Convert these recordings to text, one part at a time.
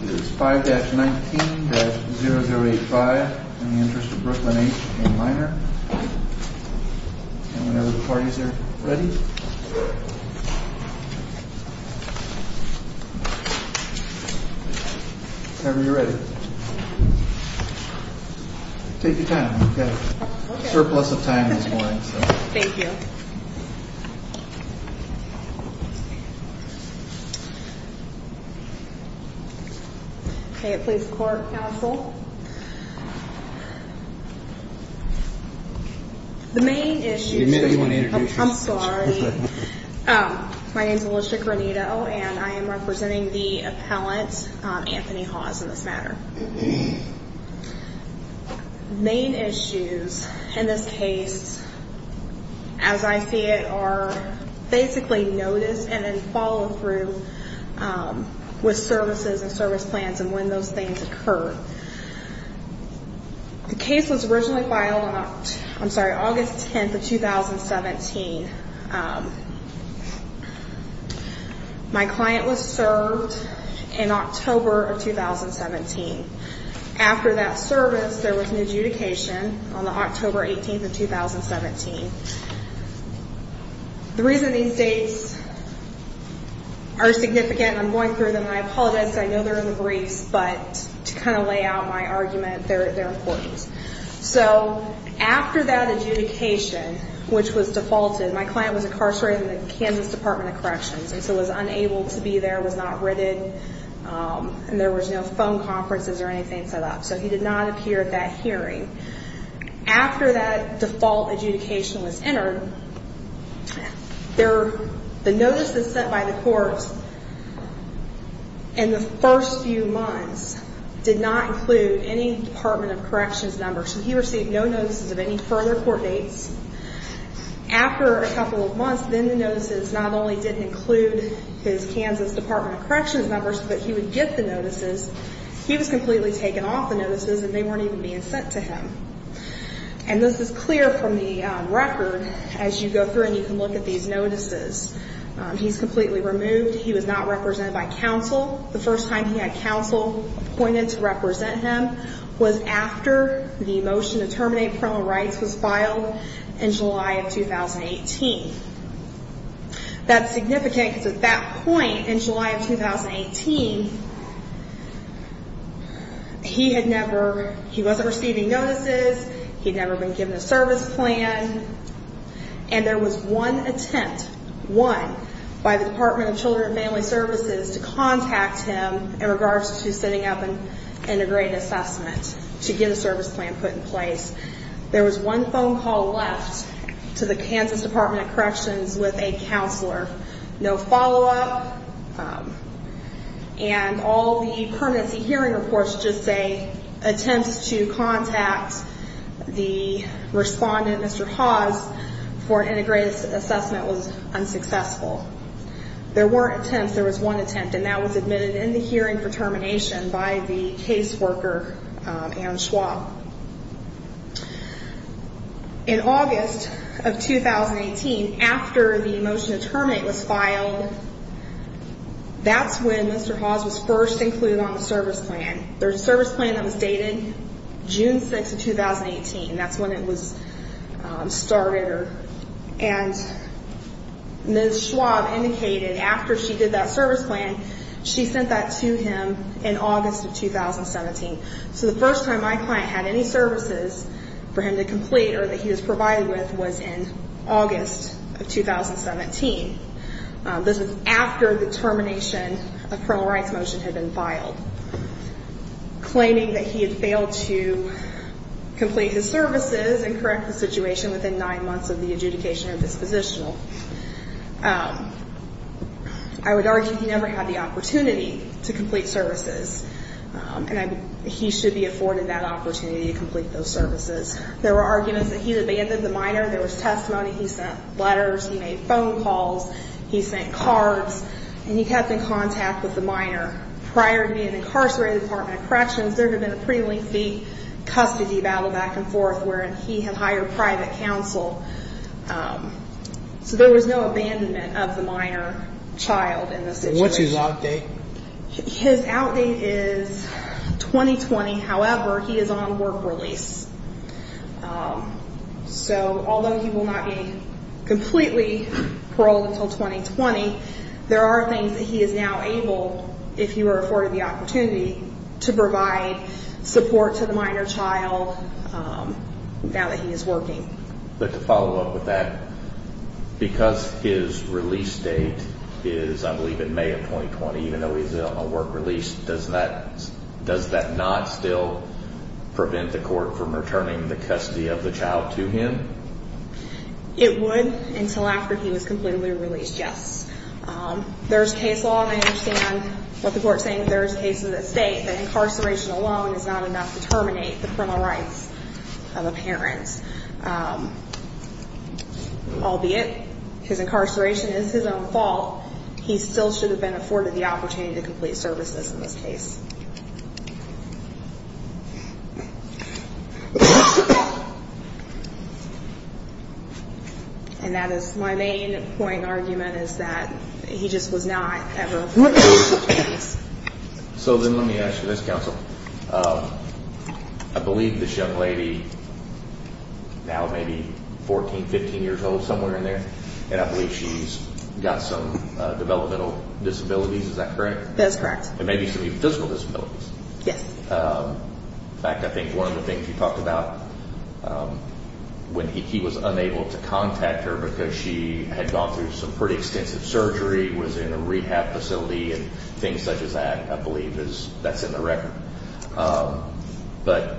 This is 5-19-0085. In the Interest of Brooklyn H. A minor. And whenever the parties are ready. Whenever you're ready. Take your time. We've got a surplus of time this morning. Thank you. Okay, please court counsel. The main issue. I'm sorry. My name is Alicia Granito and I am representing the appellant Anthony Hawes in this matter. The main issues in this case as I see it are basically notice and then follow through with services and service plans and when those things occur. The case was originally filed on, I'm sorry, August 10th of 2017. My client was served in October of 2017. After that service there was an adjudication on the October 18th of 2017. The reason these dates are significant. I'm going through them. I apologize. I know they're in the briefs but to kind of lay out my argument they're important. So after that adjudication, which was defaulted. My client was incarcerated in the Kansas Department of Corrections. And so was unable to be there was not written and there was no phone conferences or anything set up. So he did not appear at that hearing. After that default adjudication was entered. The notice is set by the courts. In the first few months did not include any Department of Corrections numbers. He received no notices of any further court dates. After a couple of months, then the notices not only didn't include his Kansas Department of Corrections numbers, but he would get the notices. He was completely taken off the notices and they weren't even being sent to him. And this is clear from the record as you go through and you can look at these notices. He's completely removed. He was not represented by counsel. The first time he had counsel appointed to represent him was after the motion to terminate criminal rights was filed in July of 2018. That's significant because at that point in July of 2018, he had never, he wasn't receiving notices. He'd never been given a service plan. And there was one attempt, one, by the Department of Children and Family Services to contact him in regards to sitting up and integrating assessment. To get a service plan put in place. There was one phone call left to the Kansas Department of Corrections with a counselor. No follow-up. And all the permanency hearing reports just say attempts to contact the respondent, Mr. Hawes, for an integrated assessment was unsuccessful. There weren't attempts. There was one attempt and that was admitted in the hearing for Ms. Schwab. In August of 2018, after the motion to terminate was filed, that's when Mr. Hawes was first included on the service plan. There's a service plan that was dated June 6 of 2018. That's when it was started. And Ms. Schwab indicated after she did that service plan, she sent that to him in August of 2017. So the first time my client had any services for him to complete or that he was provided with was in August of 2017. This was after the termination of criminal rights motion had been filed. Claiming that he had failed to complete his services and correct the situation within nine months of the adjudication of this positional. I would argue he never had the opportunity to complete services and he should be afforded that opportunity to complete those services. There were arguments that he abandoned the minor. There was testimony. He sent letters. He made phone calls. He sent cards and he kept in contact with the minor prior to being incarcerated in the Department of Corrections. There have been a pretty lengthy custody battle back and forth where he had hired private counsel. So there was no abandonment of the minor child in this situation. What's his outdate? His outdate is 2020. However, he is on work release. So although he will not be completely paroled until 2020, there are things that he is now able, if he were afforded the opportunity to provide support to the minor child now that he is working. But to follow up with that, because his release date is I believe in May of 2020, even though he's on work release, does that not still prevent the court from returning the custody of the child to him? It would until after he was completely released. Yes. There's case law and I understand what the court is saying. There's cases that state that incarceration alone is not enough to terminate the criminal rights of a parent. Albeit, his incarceration is his own fault. He still should have been afforded the opportunity to complete services in this case. And that is my main point argument is that he just was not ever afforded the opportunity. So then let me ask you this, counsel. I believe this young lady, now maybe 14, 15 years old, somewhere in there, and I believe she's got some developmental disabilities. Is that correct? That's correct. And maybe some physical disabilities. Yes. In fact, I think one of the things you talked about when he was unable to contact her because she had gone through some pretty extensive surgery, was in a rehab facility and things such as that, I believe that's in the record. But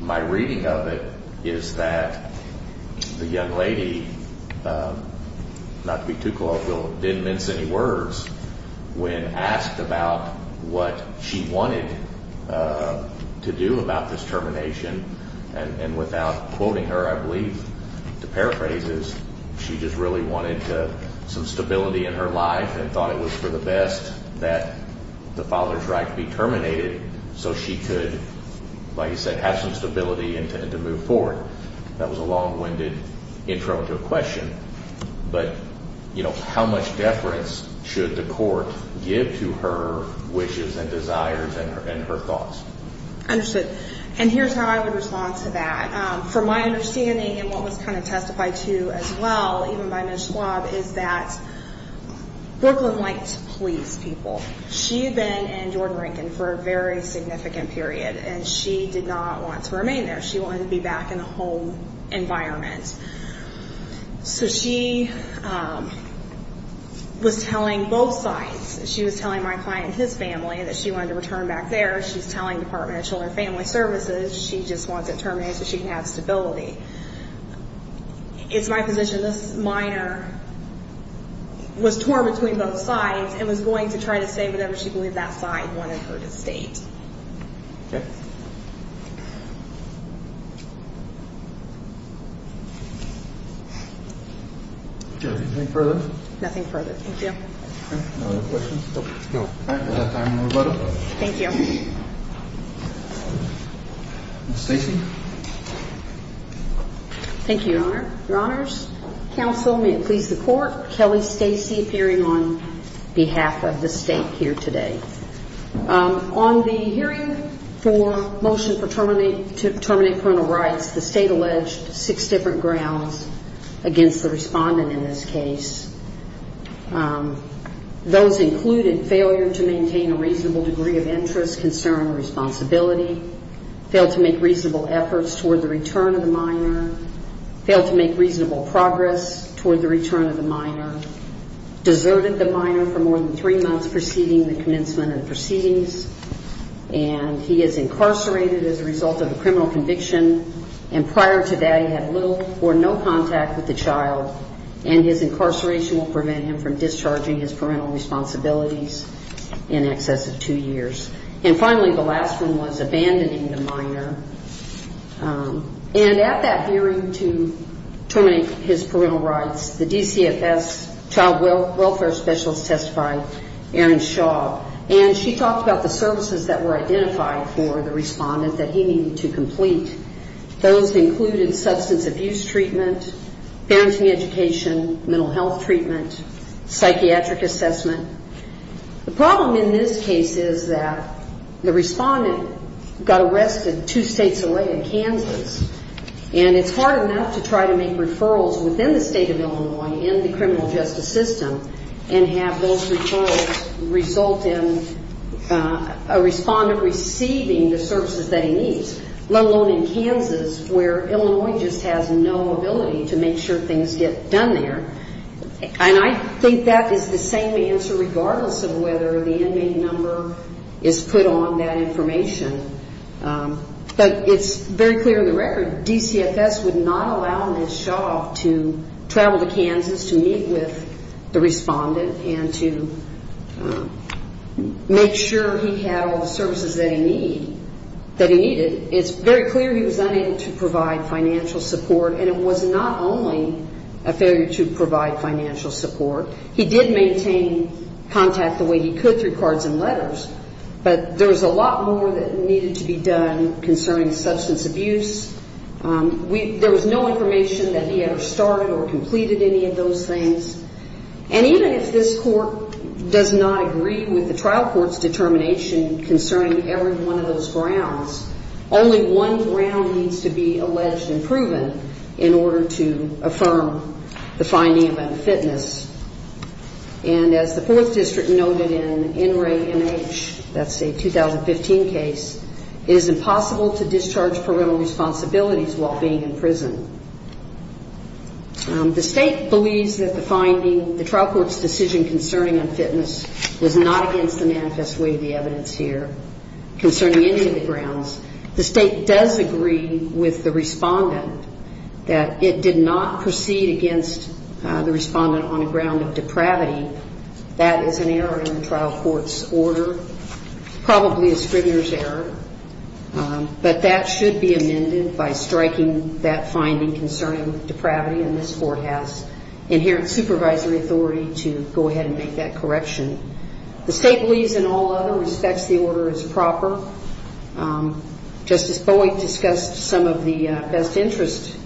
my reading of it is that the young lady, not to be too colloquial, didn't mince any words when asked about what she wanted to do about this termination. And without quoting her, I believe to paraphrase is she just really wanted some stability in her life and thought it was for the best that the father's right to be terminated so she could, like you said, have some stability and to move forward. That was a long-winded intro to a question, but, you know, how much deference should the court give to her wishes and desires and her thoughts? Understood. And here's how I would respond to that. From my understanding and what was kind of testified to as well, even by Ms. Schwab, is that Brooklyn liked to please people. She had been in Jordan-Rankin for a very significant period and she did not want to remain there. She wanted to be back in a home environment. So she was telling both sides. She was telling my client and his family that she wanted to return back there. She's telling Department of Children and Family Services. She just wants it terminated so she can have stability. It's my position. This minor was torn between both sides and was going to try to say whatever she believed that side wanted her to state. Anything further? Nothing further. Thank you. Thank you. Stacy. Thank you, Your Honor. Your Honors, counsel, may it please the court, Kelly Stacy appearing on behalf of the state here today. On the hearing for motion to terminate parental rights, the state alleged six different grounds against the respondent in this case. Those included failure to maintain a reasonable degree of interest, concern, responsibility, failed to make reasonable efforts toward the return of the minor, failed to make reasonable progress toward the return of the minor, deserted the minor for more than three months preceding the commencement of proceedings, and he is incarcerated as a result of a criminal conviction. And prior to that, he had little or no contact with the child and his incarceration will prevent him from discharging his parental responsibilities in excess of two years. And finally, the last one was abandoning the minor. And at that hearing to terminate his parental rights, the DCFS child welfare specialists testified, Erin Shaw, and she talked about the services that were identified for the respondent that he needed to complete. Those included substance abuse treatment, parenting education, mental health treatment, psychiatric assessment. The problem in this case is that the child is in Kansas. And it's hard enough to try to make referrals within the state of Illinois in the criminal justice system and have those referrals result in a respondent receiving the services that he needs, let alone in Kansas where Illinois just has no ability to make sure things get done there. And I think that is the same answer regardless of whether the inmate number is put on that information. But it's very clear in the record, DCFS would not allow Ms. Shaw to travel to Kansas to meet with the respondent and to make sure he had all the services that he needed. It's very clear he was unable to provide financial support. And it was not only a failure to provide financial support. He did maintain contact the way he could through cards and letters. But there was a lot more that needed to be done concerning substance abuse. There was no information that he ever started or completed any of those things. And even if this court does not agree with the trial court's determination concerning every one of those grounds, only one ground needs to be alleged and proven in order to affirm the finding of unfitness. And as the Fourth District noted in NRA NH, that's a 2015 case, it is impossible to discharge parental responsibilities while being in prison. The state believes that the finding, the trial court's decision concerning unfitness was not against the manifest weight of the evidence here concerning any of the grounds. The state does agree with the respondent that it did not proceed against the respondent on the ground of depravity. That is an error in the trial court's order, probably a scrivener's error. But that should be amended by striking that finding concerning depravity. And this court has inherent supervisory authority to go ahead and make that correction. The state believes in all other respects the order is proper. Justice Boeing discussed some of the best interest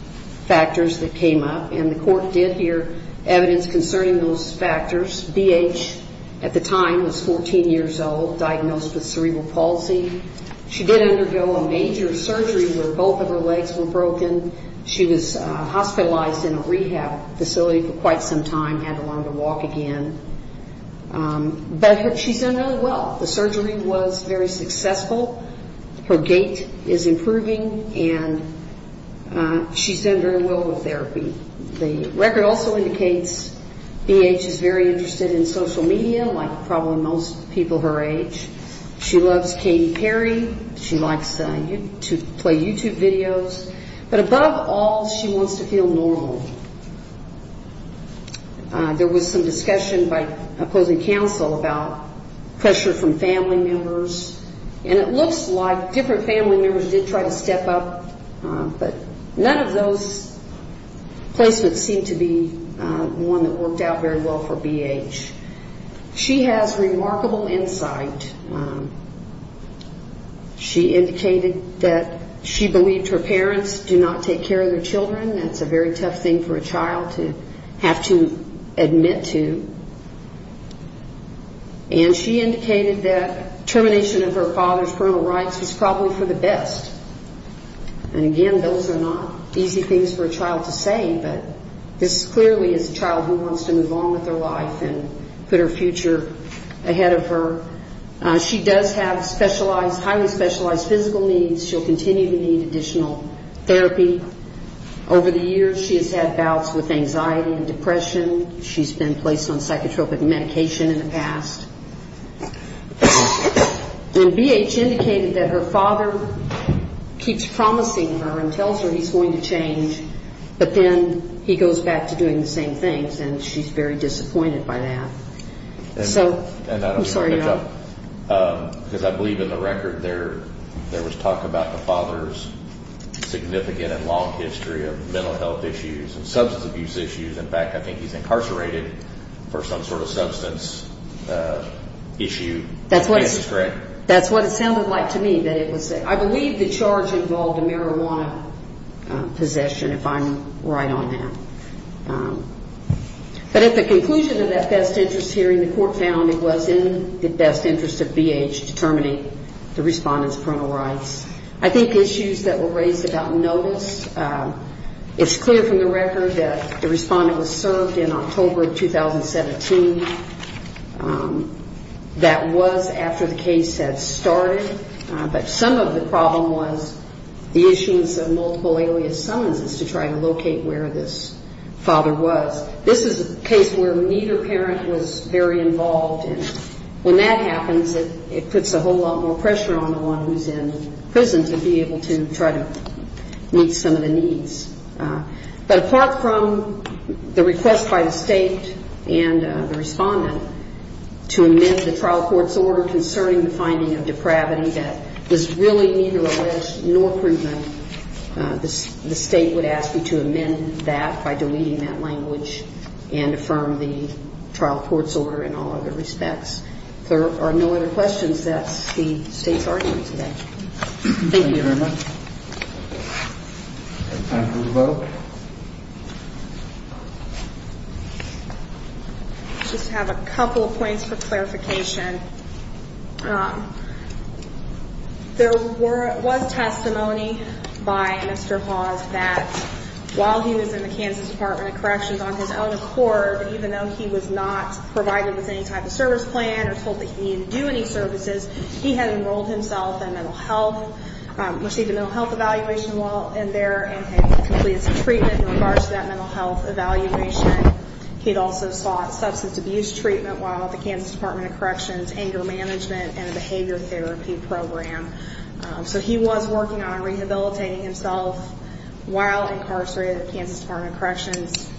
factors that came up and the court did hear evidence concerning those factors. B.H. at the time was 14 years old, diagnosed with cerebral palsy. She did undergo a major surgery where both of her legs were broken. She was hospitalized in a rehab facility for quite some time, had to learn to walk again. But she's doing really well. The surgery was very successful. Her gait is improving and she's doing very well with therapy. The record also indicates B.H. is very interested in social media, like probably most people her age. She loves Katy Perry. She likes to play YouTube videos. But above all, she wants to feel normal. There was some discussion by opposing counsel about pressure from family members. And it looks like different family members did try to step up. But none of those placements seem to be one that worked out very well for B.H. She has remarkable insight. She indicated that she believed her parents do not take care of their children. That's a very tough thing for a child to have to admit to. And she indicated that termination of her father's parental rights was probably for the best. And again, those are not easy things for a child to say, but this clearly is a child who wants to move on with her life and put her future ahead of her. She does have specialized, highly specialized physical needs. She'll continue to need additional therapy. Over the years she has had bouts with anxiety and depression. She's been placed on psychotropic medication in the past. And B.H. indicated that her father keeps promising her and tells her he's going to change, but then he goes back to doing the same things. And she's very disappointed by that. So I'm sorry to interrupt. Because I believe in the record there was talk about the father's significant and long history of mental health issues and substance abuse issues. In fact, I think he's incarcerated for some sort of substance issue. That's what it sounded like to me. I believe the charge involved a marijuana possession, if I'm right on that. But at the conclusion of that best interest hearing, the court found it was in the best interest of B.H. to terminate the respondent's parental rights. I think issues that were raised about notice, it's clear from the record that the respondent was served in October 2017. That was after the case had started. But some of the problem was the issuance of multiple alias summonses to try to locate where this father was. This is a case where neither parent was very involved. And when that happens, it puts a whole lot more pressure on the one who's in prison to be able to try to meet some of the needs. But apart from the request by the state and the respondent to amend the trial court's order concerning the finding of depravity that was really neither alleged nor proven, the state would ask you to amend that by deleting that language and affirm the trial court's order in all other respects. If there are no other questions, that's the state's argument today. Thank you very much. Any time for a vote? I just have a couple of points for clarification. There was testimony by Mr. Hawes that while he was in the Kansas Department of Corrections on his own accord, even though he was not provided with any type of service plan or told that he needed to do any services, he had enrolled himself in mental health, received a mental health evaluation while in there, and had completed some treatment in regards to that mental health evaluation. He'd also sought substance abuse treatment while at the Kansas Department of Corrections, anger management, and a behavior therapy program. So he was working on rehabilitating himself while incarcerated at Kansas Department of Corrections,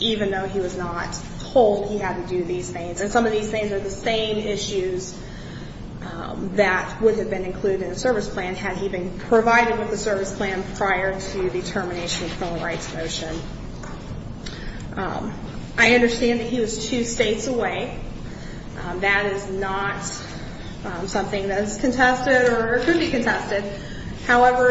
even though he was not told he had to do these things. And some of these things are the same issues that would have been included in a service plan had he been provided with a service plan prior to the termination of the criminal rights motion. I understand that he was two states away. That is not something that is contested or could be contested. However,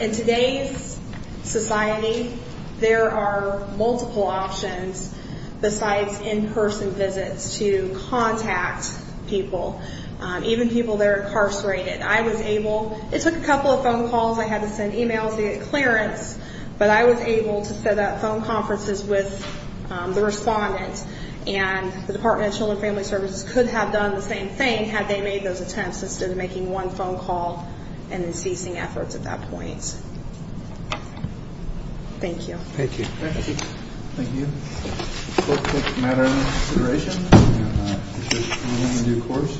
in today's society, there are multiple options besides in-person visits to contact people, even people that are incarcerated. I was able, it took a couple of phone calls. I had to send e-mails to get clearance. But I was able to set up phone conferences with the respondent. And the Department of Children and Family Services could have done the same thing had they made those attempts instead of making one phone call and then ceasing efforts at that point. Thank you. Thank you.